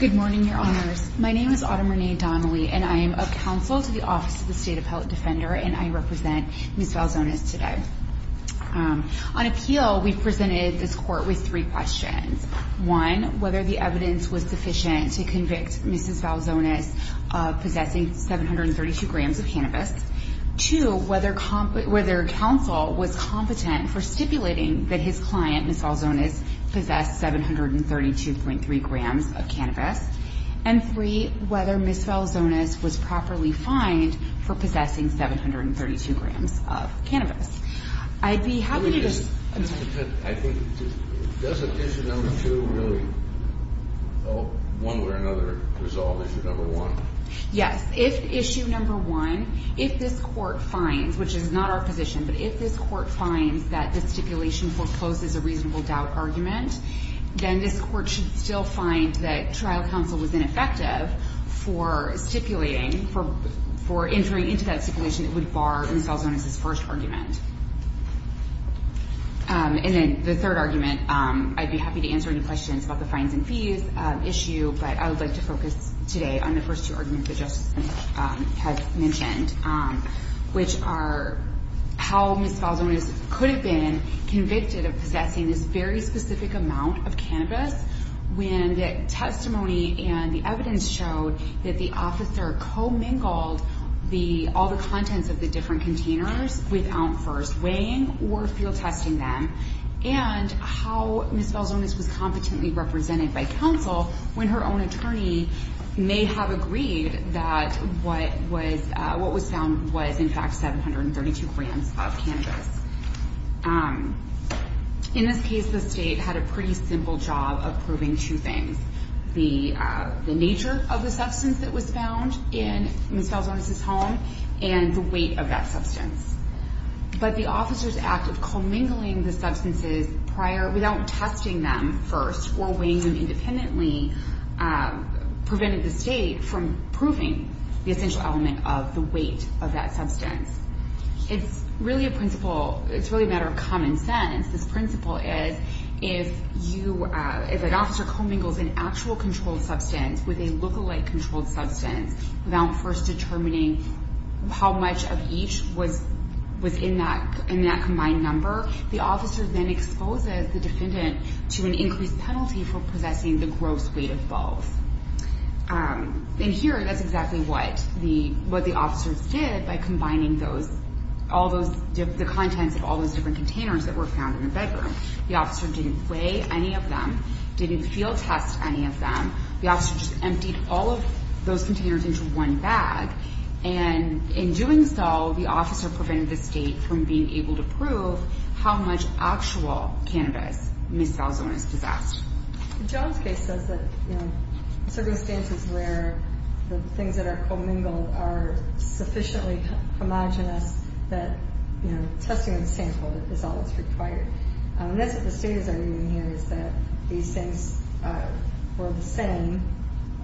Good morning, Your Honors. My name is Autumn Renee Donnelly, and I am a counsel to the Office of the State Appellate Defender, and I represent Ms. Valzonis today. On appeal, we presented this court with three questions. One, whether the evidence was sufficient to prove Ms. Valzonis possessing 732 grams of cannabis. Two, whether counsel was competent for stipulating that his client, Ms. Valzonis, possessed 732.3 grams of cannabis. And three, whether Ms. Valzonis was properly fined for possessing 732 grams of cannabis. I'd be happy to just – I'm sorry. I think – does issue number two really, one way or another, resolve issue number one? Yes. If issue number one, if this Court finds, which is not our position, but if this Court finds that the stipulation forecloses a reasonable doubt argument, then this Court should still find that trial counsel was ineffective for stipulating, for entering into that stipulation that would bar Ms. Valzonis's first argument. And then the third argument, I'd be happy to answer any questions about the fines and fees issue, but I would like to focus today on the first two arguments that Justice Lynch has mentioned, which are how Ms. Valzonis could have been convicted of possessing this very specific amount of cannabis when the testimony and the evidence showed that the officer co-mingled all the contents of the different weighing or field testing them, and how Ms. Valzonis was competently represented by counsel when her own attorney may have agreed that what was found was in fact 732 grams of cannabis. In this case, the State had a pretty simple job of proving two things, the nature of the substance that was found in Ms. Valzonis's home and the weight of that substance. But the officer's act of co-mingling the substances prior, without testing them first or weighing them independently, prevented the State from proving the essential element of the weight of that substance. It's really a principle, it's really a matter of common sense. This principle is, if you, if an officer co-mingles an actual controlled substance with a lookalike controlled substance without first determining how much of each was in that combined number, the officer then exposes the defendant to an increased penalty for possessing the gross weight of both. In here, that's exactly what the officers did by combining those, all those, the contents of all those different containers that were found in the bedroom. The officer didn't weigh any of them, didn't field test any of them. The officer just emptied all of those containers into one bag. And in doing so, the officer prevented the State from being able to prove how much actual cannabis Ms. Valzonis possessed. The Jones case says that, you know, circumstances where the things that are co-mingled are sufficiently homogenous that, you know, testing the sample is all that's required. That's what the State is arguing here, is that these things were the same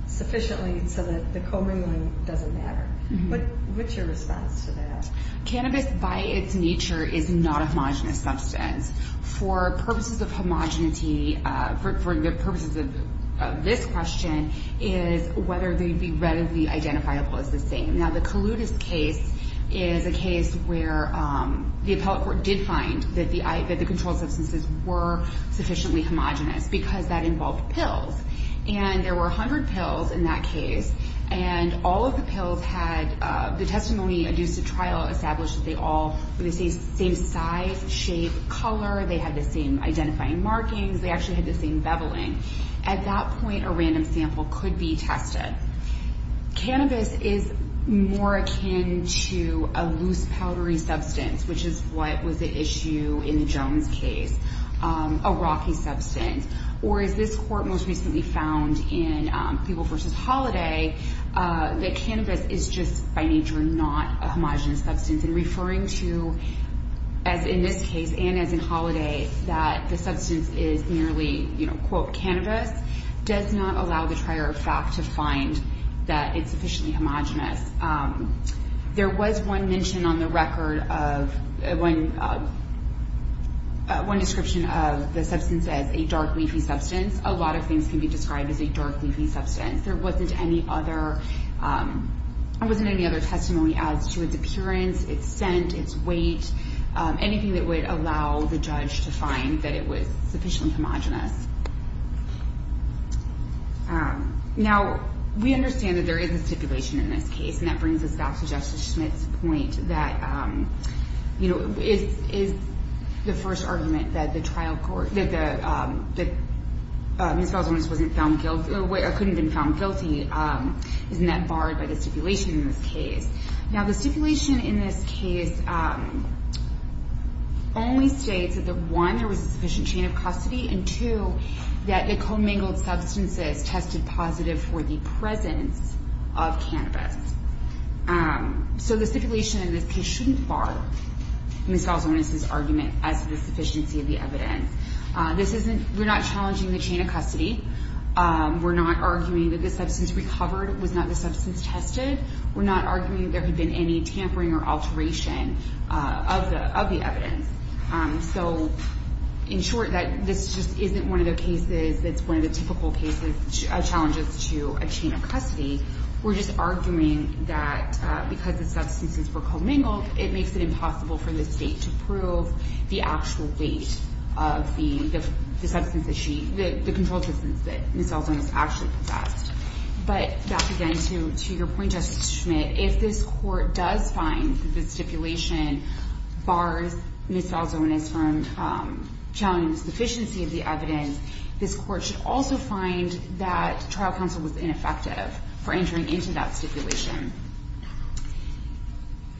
sufficiently so that the co-mingling doesn't matter. But what's your response to that? Cannabis by its nature is not a homogenous substance. For purposes of homogeneity, for the purposes of this question, is whether they'd be readily identifiable as the same. Now, the Kaloudis case is a case where the appellate court did find that the controlled substances were sufficiently homogenous because that involved pills. And there were 100 pills in that case. And all of the pills had the testimony adduced to trial established that they all were the same size, shape, color. They had the same identifying markings. They actually had the same beveling. At that point, a random sample could be tested. Cannabis is more akin to a loose, powdery substance, which is what was the issue in the Jones case, a rocky substance. Or as this court most recently found in Peeble v. Holiday, that cannabis is just by nature not a homogenous substance. And referring to, as in this case and as in Holiday, that the substance is merely, quote, cannabis, does not allow the trier of fact to find that it's sufficiently homogenous. There was one mention on the record of one description of the substance as a dark, leafy substance. A lot of things can be described as a dark, leafy substance. There wasn't any other testimony as to its appearance, its scent, its weight, anything that would allow the judge to find that it was sufficiently homogenous. Now, we understand that there is a stipulation in this case. And that brings us back to Justice Schmitt's point that it is the first argument that Ms. Falzonis couldn't have been found guilty, isn't that barred by the stipulation in this case. Now, the stipulation in this case only states that, one, there was a sufficient chain of custody, and two, that the commingled substances tested positive for the presence of cannabis. So the stipulation in this case shouldn't bar Ms. Falzonis' argument as to the sufficiency of the evidence. We're not challenging the chain of custody. We're not arguing that the substance recovered was not the substance tested. We're not arguing that there had been any tampering or alteration of the evidence. So, in short, that this just isn't one of the cases that's one of the typical challenges to a chain of custody. We're just arguing that because the substances were commingled, it makes it of the substance that she, the controlled substance that Ms. Falzonis actually possessed. But back again to your point, Justice Schmitt, if this court does find that the stipulation bars Ms. Falzonis from challenging the sufficiency of the evidence, this court should also find that trial counsel was ineffective for entering into that stipulation.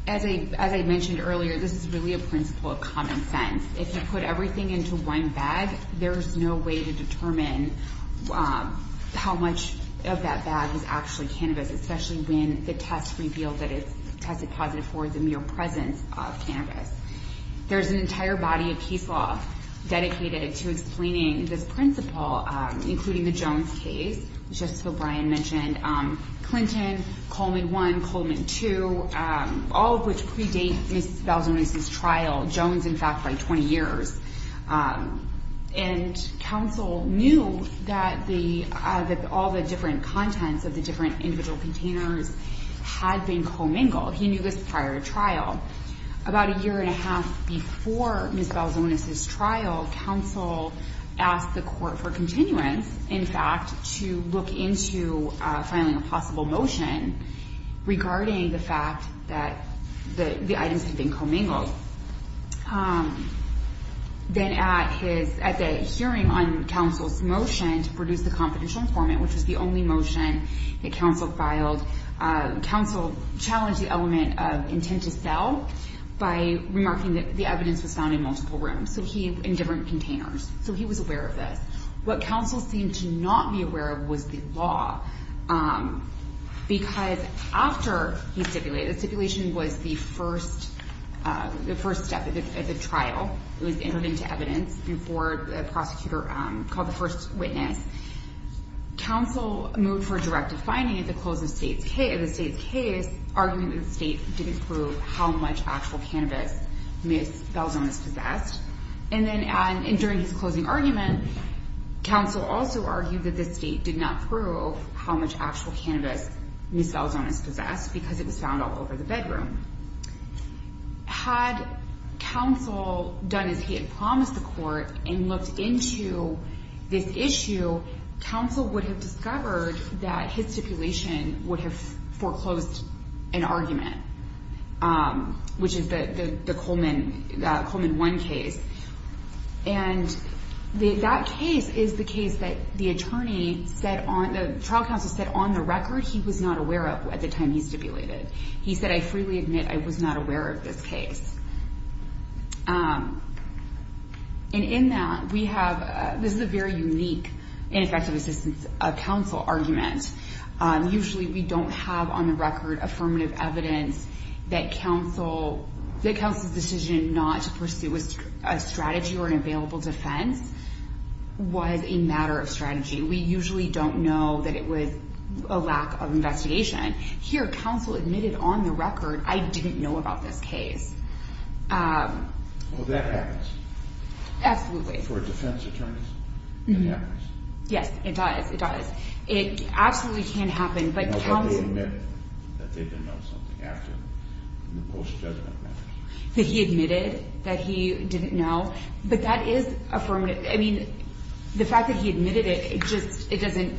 So, as I mentioned earlier, this is really a principle of common sense. If you put everything into one bag, there's no way to determine how much of that bag is actually cannabis, especially when the test revealed that it's tested positive for the mere presence of cannabis. There's an entire body of case law dedicated to explaining this principle, including the Jones case. Just so Brian mentioned, Clinton, Coleman I, Coleman II, all of which predate Ms. Falzonis' trial, Jones, in fact, by 20 years. And counsel knew that all the different contents of the different individual containers had been commingled. He knew this prior to trial. About a year and a half before Ms. Falzonis' trial, counsel asked the court for continuance, in fact, to look into filing a possible motion regarding the fact that the items had been commingled. Then at the hearing on counsel's motion to produce the confidential informant, which was the only motion that counsel filed, counsel challenged the element of intent to sell by remarking that the evidence was found in multiple rooms, in different containers. So he was aware of this. What counsel seemed to not be aware of was the law, because after he stipulated, the stipulation was the first step of the trial. It was entered into evidence before the prosecutor called the first witness. Counsel moved for a directive finding at the close of the state's case, arguing that the state didn't prove how much actual cannabis Ms. Falzonis And then during his closing argument, counsel also argued that the state did not prove how much actual cannabis Ms. Falzonis possessed, because it was found all over the bedroom. Had counsel done as he had promised the court and looked into this issue, counsel would have discovered that his stipulation would have foreclosed an argument, which is the Coleman 1 case. And that case is the case that the trial counsel said on the record he was not aware of at the time he stipulated. He said, I freely admit I was not aware of this case. And in that, this is a very unique ineffective assistance of counsel argument. Usually, we don't have on the record affirmative evidence that counsel, that counsel's decision not to pursue a strategy or an available defense was a matter of strategy. We usually don't know that it was a lack of investigation. Here, counsel admitted on the record, I didn't know about this case. Well, that happens. Absolutely. For defense attorneys, it happens. Yes, it does. It does. It absolutely can happen. I know that they admitted that they didn't know something after the post-judgment matter. That he admitted that he didn't know. But that is affirmative. I mean, the fact that he admitted it, it just, it doesn't,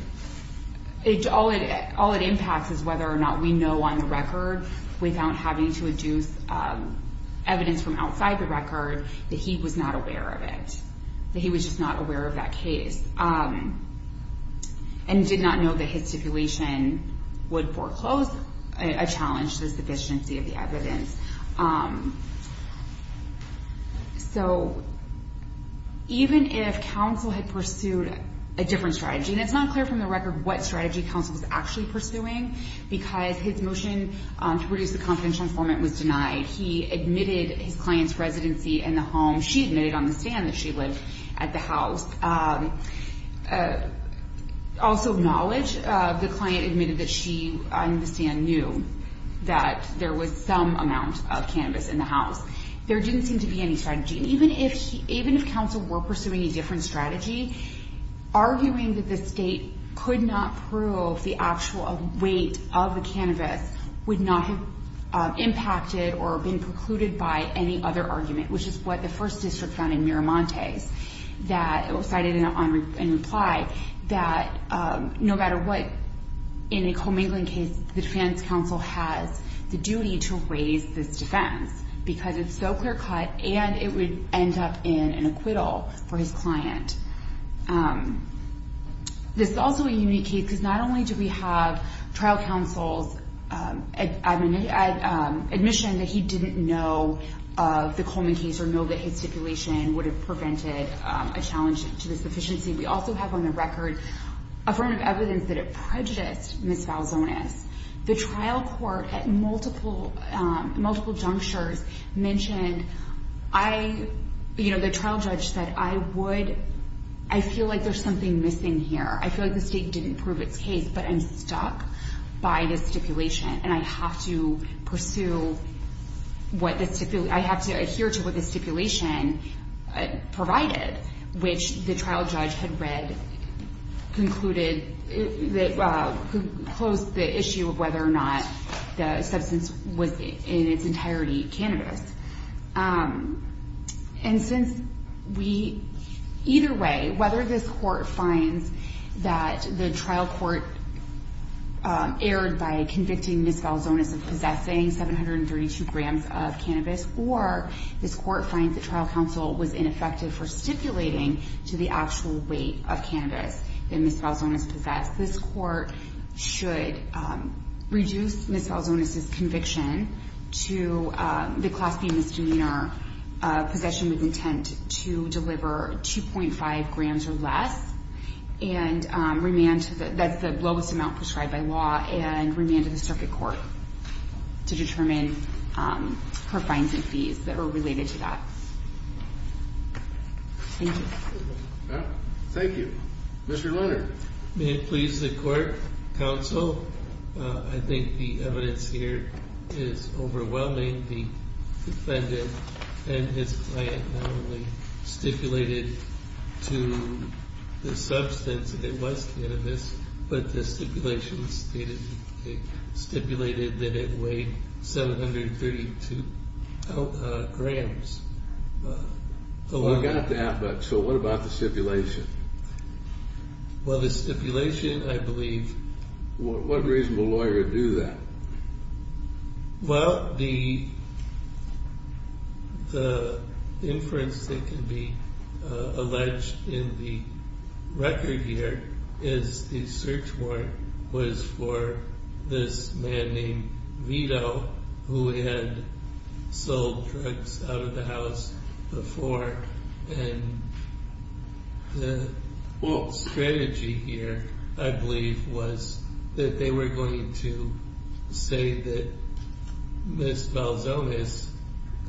all it impacts is whether or not we know on the record without having to deduce evidence from outside the record that he was not aware of it, that he was just not aware of that case. And did not know that his stipulation would foreclose a challenge to the sufficiency of the evidence. So even if counsel had pursued a different strategy, and it's not clear from the record what strategy counsel was actually pursuing because his motion to produce the confidential informant was denied. He admitted his client's residency in the home. She admitted on the stand that she lived at the house. Also, knowledge of the client admitted that she, on the stand, knew that there was some amount of cannabis in the house. There didn't seem to be any strategy. And even if he, even if counsel were pursuing a different strategy, arguing that the state could not prove the actual weight of the cannabis would not have impacted or been precluded by any other argument, which is what the first district found in Miramontes. That it was cited in reply that no matter what, in a Coleman case, the defense counsel has the duty to raise this defense. Because it's so clear cut and it would end up in an acquittal for his client. This is also a unique case because not only do we have trial counsel's admission that he didn't know of the Coleman case or know that his stipulation would have prevented a challenge to the sufficiency. We also have on the record a form of evidence that it prejudiced Ms. Valzonas. The trial court at multiple junctures mentioned, the trial judge said, I feel like there's something missing here. I feel like the state didn't prove its case. But I'm stuck by this stipulation. And I have to pursue what the stipulation, I have to adhere to what the stipulation provided, which the trial judge had read, concluded, that posed the issue of whether or not the substance was in its entirety cannabis. And since we, either way, whether this court finds that the trial court erred by convicting Ms. Valzonas of possessing 732 grams of cannabis, or this court finds that trial counsel was ineffective for stipulating to the actual weight of cannabis that Ms. Valzonas possessed, this court should reduce Ms. Valzonas' conviction to the class B misdemeanor possession with intent to deliver 2.5 grams or less and remand to the, that's the lowest amount prescribed by law, and remand to the circuit court to determine her fines and fees that are related to that. Thank you. Thank you. Mr. Lerner. May it please the court, counsel, I think the evidence here is overwhelming. The defendant and his client not only stipulated to the substance that it was cannabis, but the stipulation stated, stipulated that it weighed 732 grams. We got that, but so what about the stipulation? Well, the stipulation, I believe. What reasonable lawyer would do that? Well, the inference that can be alleged in the record here is the search warrant was for this man named Vito, who had sold drugs out of the house before, and the whole strategy here, I believe, was that they were going to say that Ms. Valzonas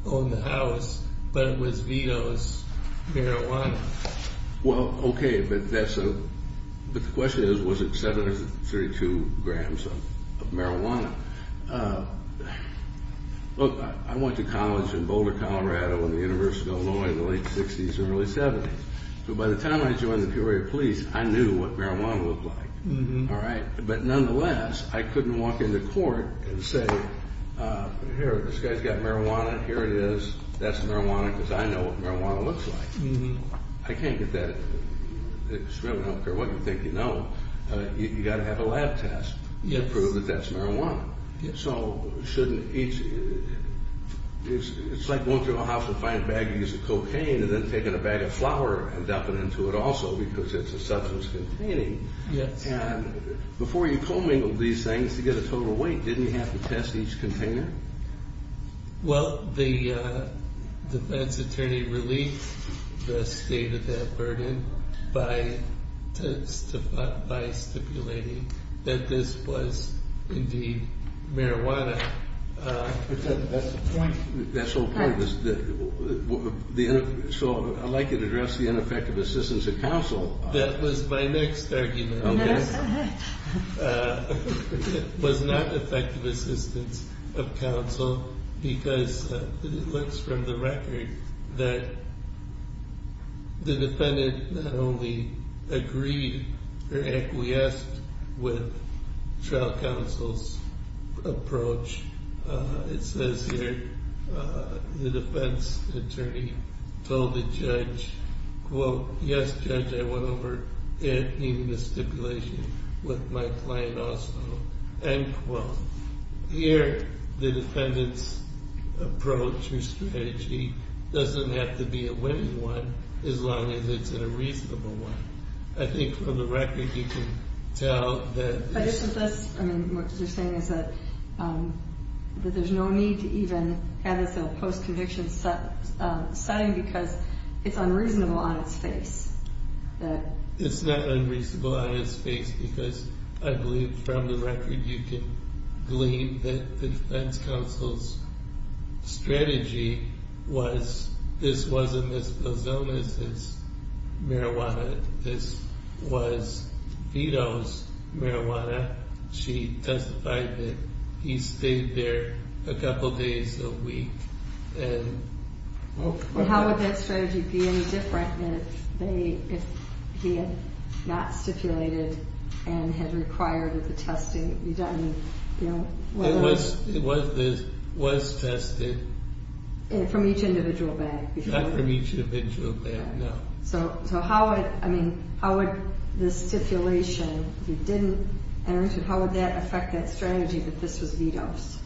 owned the house, but it was Vito's marijuana. Well, okay, but that's a, but the question is, was it 732 grams of marijuana? Look, I went to college in Boulder, Colorado in the University of Illinois in the late period of police. I knew what marijuana looked like, all right? But nonetheless, I couldn't walk into court and say, here, this guy's got marijuana. Here it is. That's marijuana because I know what marijuana looks like. I can't get that. It's really, I don't care what you think, you know, you got to have a lab test to prove that that's marijuana. So shouldn't each, it's like going through a house and finding a bag of cocaine and then taking a bag of flour and dumping into it also because it's a substance containing. Yes. And before you co-mingled these things to get a total weight, didn't you have to test each container? Well, the defense attorney released the state of that burden by stipulating that this was indeed marijuana. That's the point. That's the whole point. So I'd like you to address the ineffective assistance of counsel. That was my next argument. It was not effective assistance of counsel because it looks from the record that the defendant not only agreed or acquiesced with trial counsel's approach. It says here the defense attorney told the judge, quote, yes, judge, I went over it, even the stipulation with my client also, end quote. Here the defendant's approach or strategy doesn't have to be a winning one as long as it's a reasonable one. I think from the record you can tell that. But isn't this, I mean, what you're saying is that there's no need to even have this in a post-conviction setting because it's unreasonable on its face. It's not unreasonable on its face because I believe from the record you can glean that defense counsel's strategy was this wasn't Ms. Belzona's marijuana. This was Vito's marijuana. She testified that he stayed there a couple days a week. How would that strategy be any different if he had not stipulated and had required that the testing be done? It was tested. From each individual bag? Not from each individual bag, no. So how would this stipulation, if it didn't enter into, how would that affect that strategy that this was Vito's?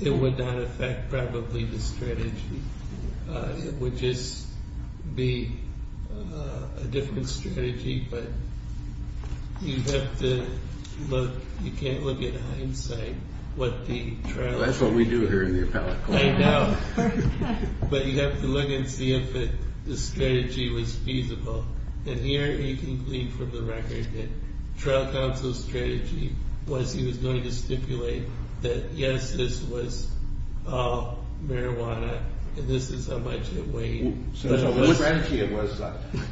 It would not affect probably the strategy. It would just be a different strategy. But you have to look, you can't look at hindsight. That's what we do here in the appellate court. I know. But you have to look and see if the strategy was feasible. And here you can glean from the record that trial counsel's strategy was he was going to stipulate that yes, this was marijuana, and this is how much it weighed. So the strategy was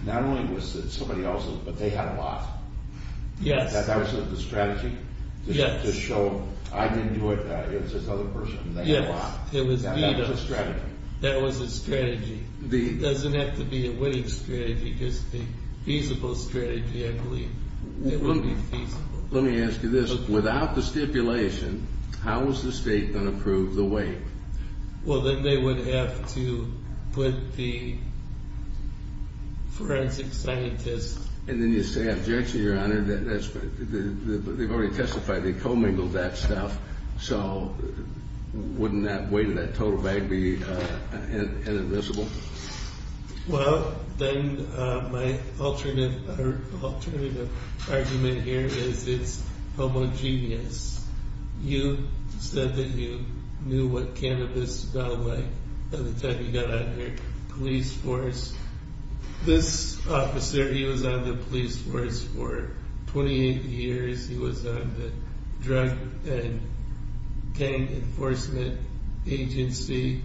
not only was it somebody else's, but they had a lot. Yes. That was the strategy? Yes. To show I didn't do it, it was another person, and they had a lot. It was Vito's strategy. That was the strategy. It doesn't have to be a winning strategy, just a feasible strategy, I believe. It would be feasible. Let me ask you this. Without the stipulation, how was the state going to prove the weight? Well, then they would have to put the forensic scientist. And then you say, objection, your honor. They've already testified. They co-mingled that stuff. So wouldn't that weight of that total bag be inadmissible? Well, then my alternative argument here is it's homogeneous. You said that you knew what cannabis smelled like by the time you got on your police force. This officer, he was on the police force for 28 years. He was on the Drug and Gang Enforcement Agency.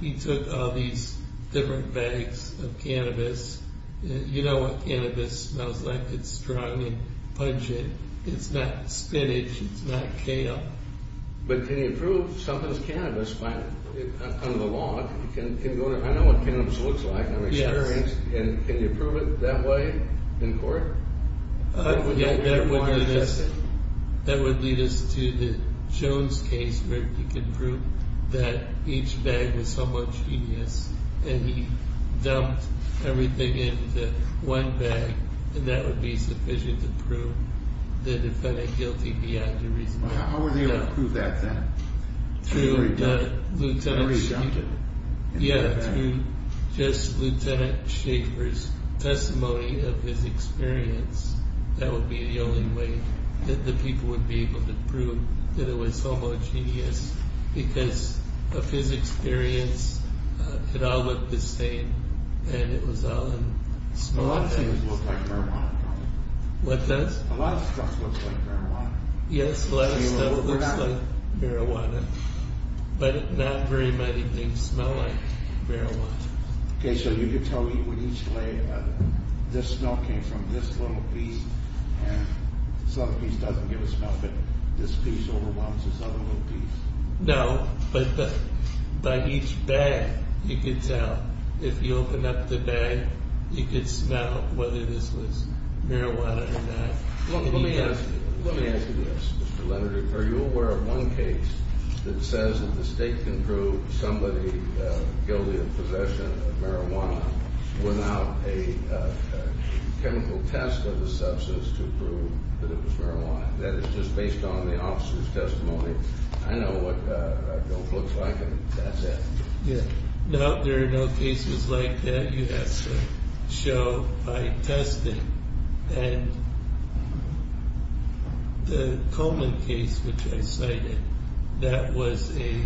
He took all these different bags of cannabis. You know what cannabis smells like. It's strong and pungent. It's not spinach. It's not kale. But can you prove something's cannabis on the law? I know what cannabis looks like. I'm experienced. And can you prove it that way in court? Yeah, that would lead us to the Jones case where he can prove that each bag was homogeneous. And he dumped everything into one bag. And that would be sufficient to prove the defendant guilty beyond a reasonable doubt. How were they able to prove that then? Through the lieutenant's testimony of his experience. That would be the only way that the people would be able to prove that it was homogeneous. Because of his experience, it all looked the same. And it was all in small bags. A lot of things look like marijuana. What does? A lot of stuff looks like marijuana. Yes, a lot of stuff looks like marijuana. But not very many things smell like marijuana. Okay, so you could tell me when each layer, this smell came from this little piece. And this other piece doesn't give a smell. But this piece overwhelms this other little piece. No, but by each bag, you could tell. If you open up the bag, you could smell whether this was marijuana or not. Let me ask you this, Mr. Leonard. Are you aware of one case that says that the state can prove somebody guilty of possession of marijuana without a chemical test of the substance to prove that it was marijuana? That is just based on the officer's testimony. I know what that looks like, and that's it. Yeah, no, there are no cases like that. You have to show by testing. And the Coleman case, which I cited, that was a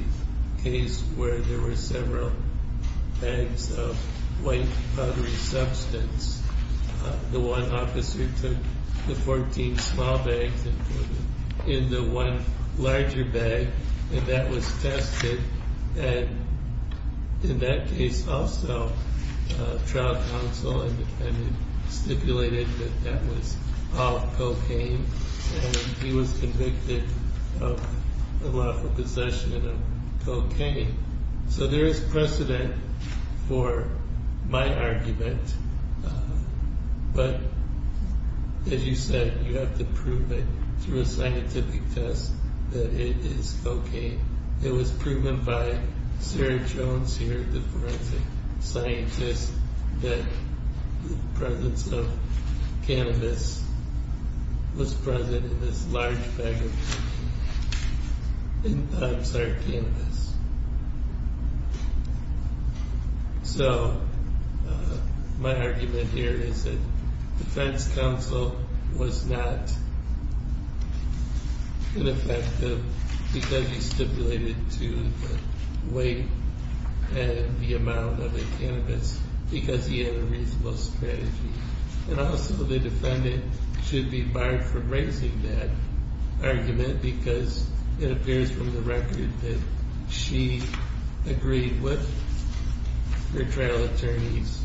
case where there were several bags of white powdery substance. The one officer took the 14 small bags and put them in the one larger bag, and that was tested. And in that case, also, a trial counsel and defendant stipulated that that was all cocaine, and he was convicted of the lawful possession of cocaine. So there is precedent for my argument. But as you said, you have to prove it through a scientific test that it is cocaine. It was proven by Sarah Jones here, the forensic scientist, that the presence of cannabis was present in this large bag of SART cannabis. So my argument here is that defense counsel was not ineffective because he stipulated to the weight and the amount of the cannabis because he had a reasonable strategy. And also, the defendant should be barred from raising that argument because it appears from the record that she agreed with her trial attorney's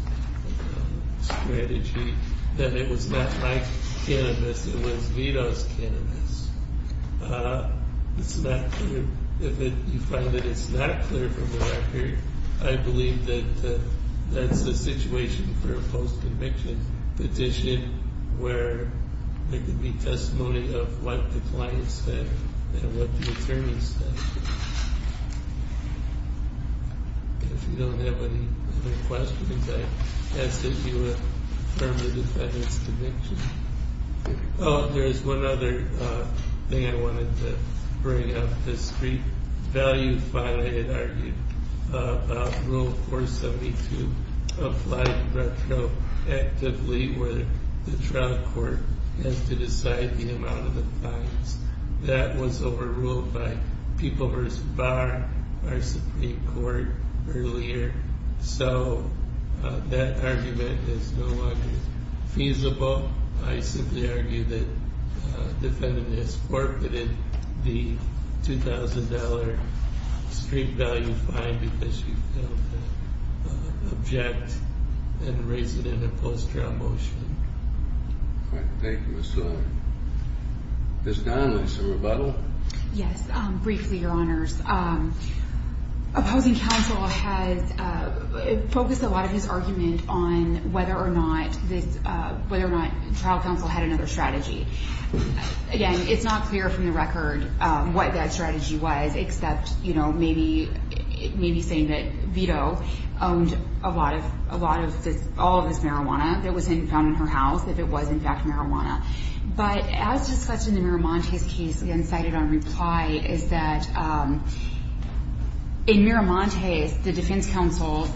strategy that it was not my cannabis, it was Vito's cannabis. It's not clear. If you find that it's not clear from the record, I believe that that's the situation for a post-conviction petition where there could be testimony of what the client said and what the attorney said. If you don't have any other questions, I ask that you affirm the defendant's conviction. Oh, there's one other thing I wanted to bring up. The street value fine I had argued about Rule 472 applied retroactively where the trial court has to decide the amount of the fines. That was overruled by People v. Bar, our Supreme Court, earlier. So that argument is no longer feasible. I simply argue that the defendant has forfeited the $2,000 street value fine because she failed to object and raise it in a post-trial motion. All right. Thank you, Ms. Sullivan. Ms. Donnelly, some rebuttal? Yes, briefly, Your Honors. Opposing counsel has focused a lot of his argument on whether or not trial counsel had another strategy. Again, it's not clear from the record what that strategy was, except maybe saying that Vito owned all of this marijuana that was found in her house, if it was, in fact, marijuana. But as discussed in the Miramontes case, again, cited on reply, is that in Miramontes, the defense counsel's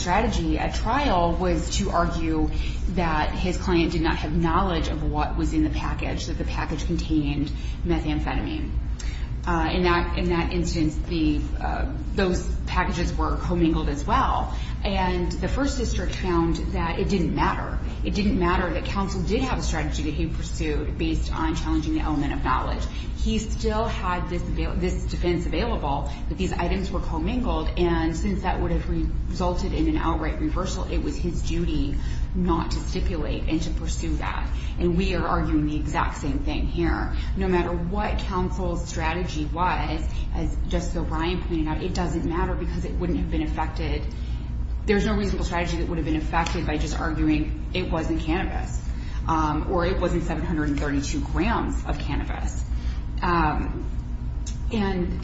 strategy at trial was to argue that his client did not have knowledge of what was in the package, that the package contained methamphetamine. In that instance, those packages were commingled as well. And the First District found that it didn't matter. It didn't matter that counsel did have a strategy that he pursued based on challenging the element of knowledge. He still had this defense available, but these items were commingled. And since that would have resulted in an outright reversal, it was his duty not to stipulate and to pursue that. And we are arguing the exact same thing here. No matter what counsel's strategy was, as Justice O'Brien pointed out, it doesn't matter because it wouldn't have been affected. There's no reasonable strategy that would have been affected by just arguing it wasn't cannabis or it wasn't 732 grams of cannabis. And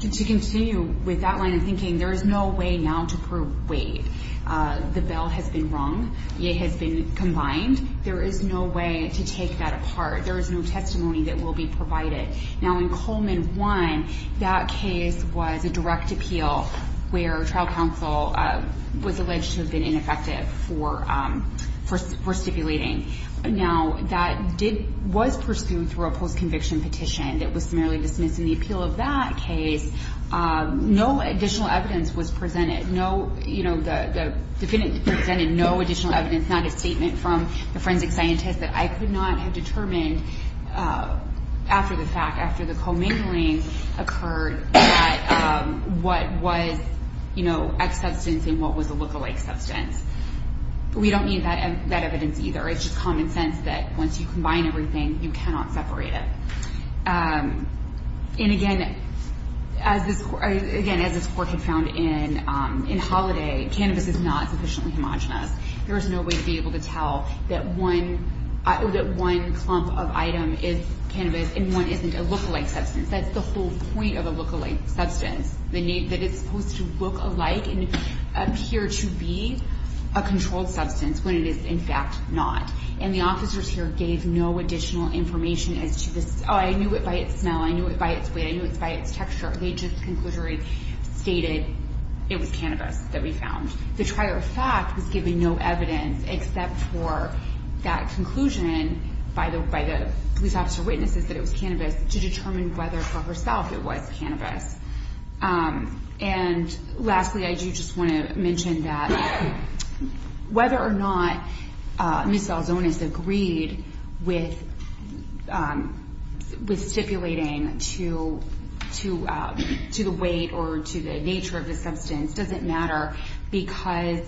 to continue with that line of thinking, there is no way now to prove weight. The bell has been rung. It has been combined. There is no way to take that apart. There is no testimony that will be provided. Now, in Coleman 1, that case was a direct appeal where trial counsel was alleged to have been ineffective for stipulating. Now, that was pursued through a post-conviction petition that was summarily dismissed. In the appeal of that case, no additional evidence was presented. The defendant presented no additional evidence, not a statement from the forensic scientist that I could not have determined after the fact, after the commingling occurred, that what was, you know, ex-substance and what was a lookalike substance. We don't need that evidence either. It's just common sense that once you combine everything, you cannot separate it. And again, as this court had found in Holiday, cannabis is not sufficiently homogenous. There is no way to be able to tell that one clump of item is cannabis and one isn't a lookalike substance. That's the whole point of a lookalike substance, that it's supposed to look alike and appear to be a controlled substance when it is, in fact, not. And the officers here gave no additional information as to this. Oh, I knew it by its smell. I knew it by its weight. I knew it by its texture. They just conclusively stated it was cannabis that we found. The prior fact was given no evidence except for that conclusion by the police officer witnesses that it was cannabis to determine whether for herself it was cannabis. And lastly, I do just want to mention that whether or not Ms. Salzonas agreed with stipulating to the weight or to the nature of the substance doesn't matter because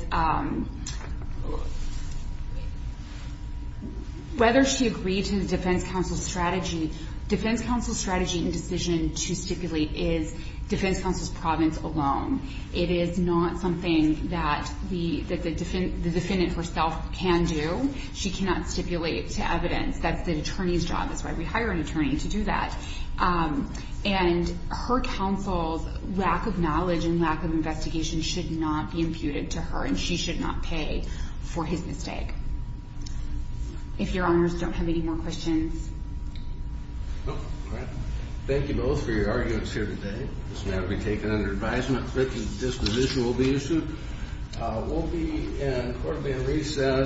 whether she agreed to the defense counsel's strategy, defense counsel's strategy and decision to stipulate is defense counsel's province alone. It is not something that the defendant herself can do. She cannot stipulate to evidence. That's the attorney's job. That's why we hire an attorney to do that. And her counsel's lack of knowledge and lack of investigation should not be imputed to her, and she should not pay for his mistake. If your honors don't have any more questions. Thank you both for your arguments here today. This matter will be taken under advisement. Written disposition will be issued. We'll be in court in recess.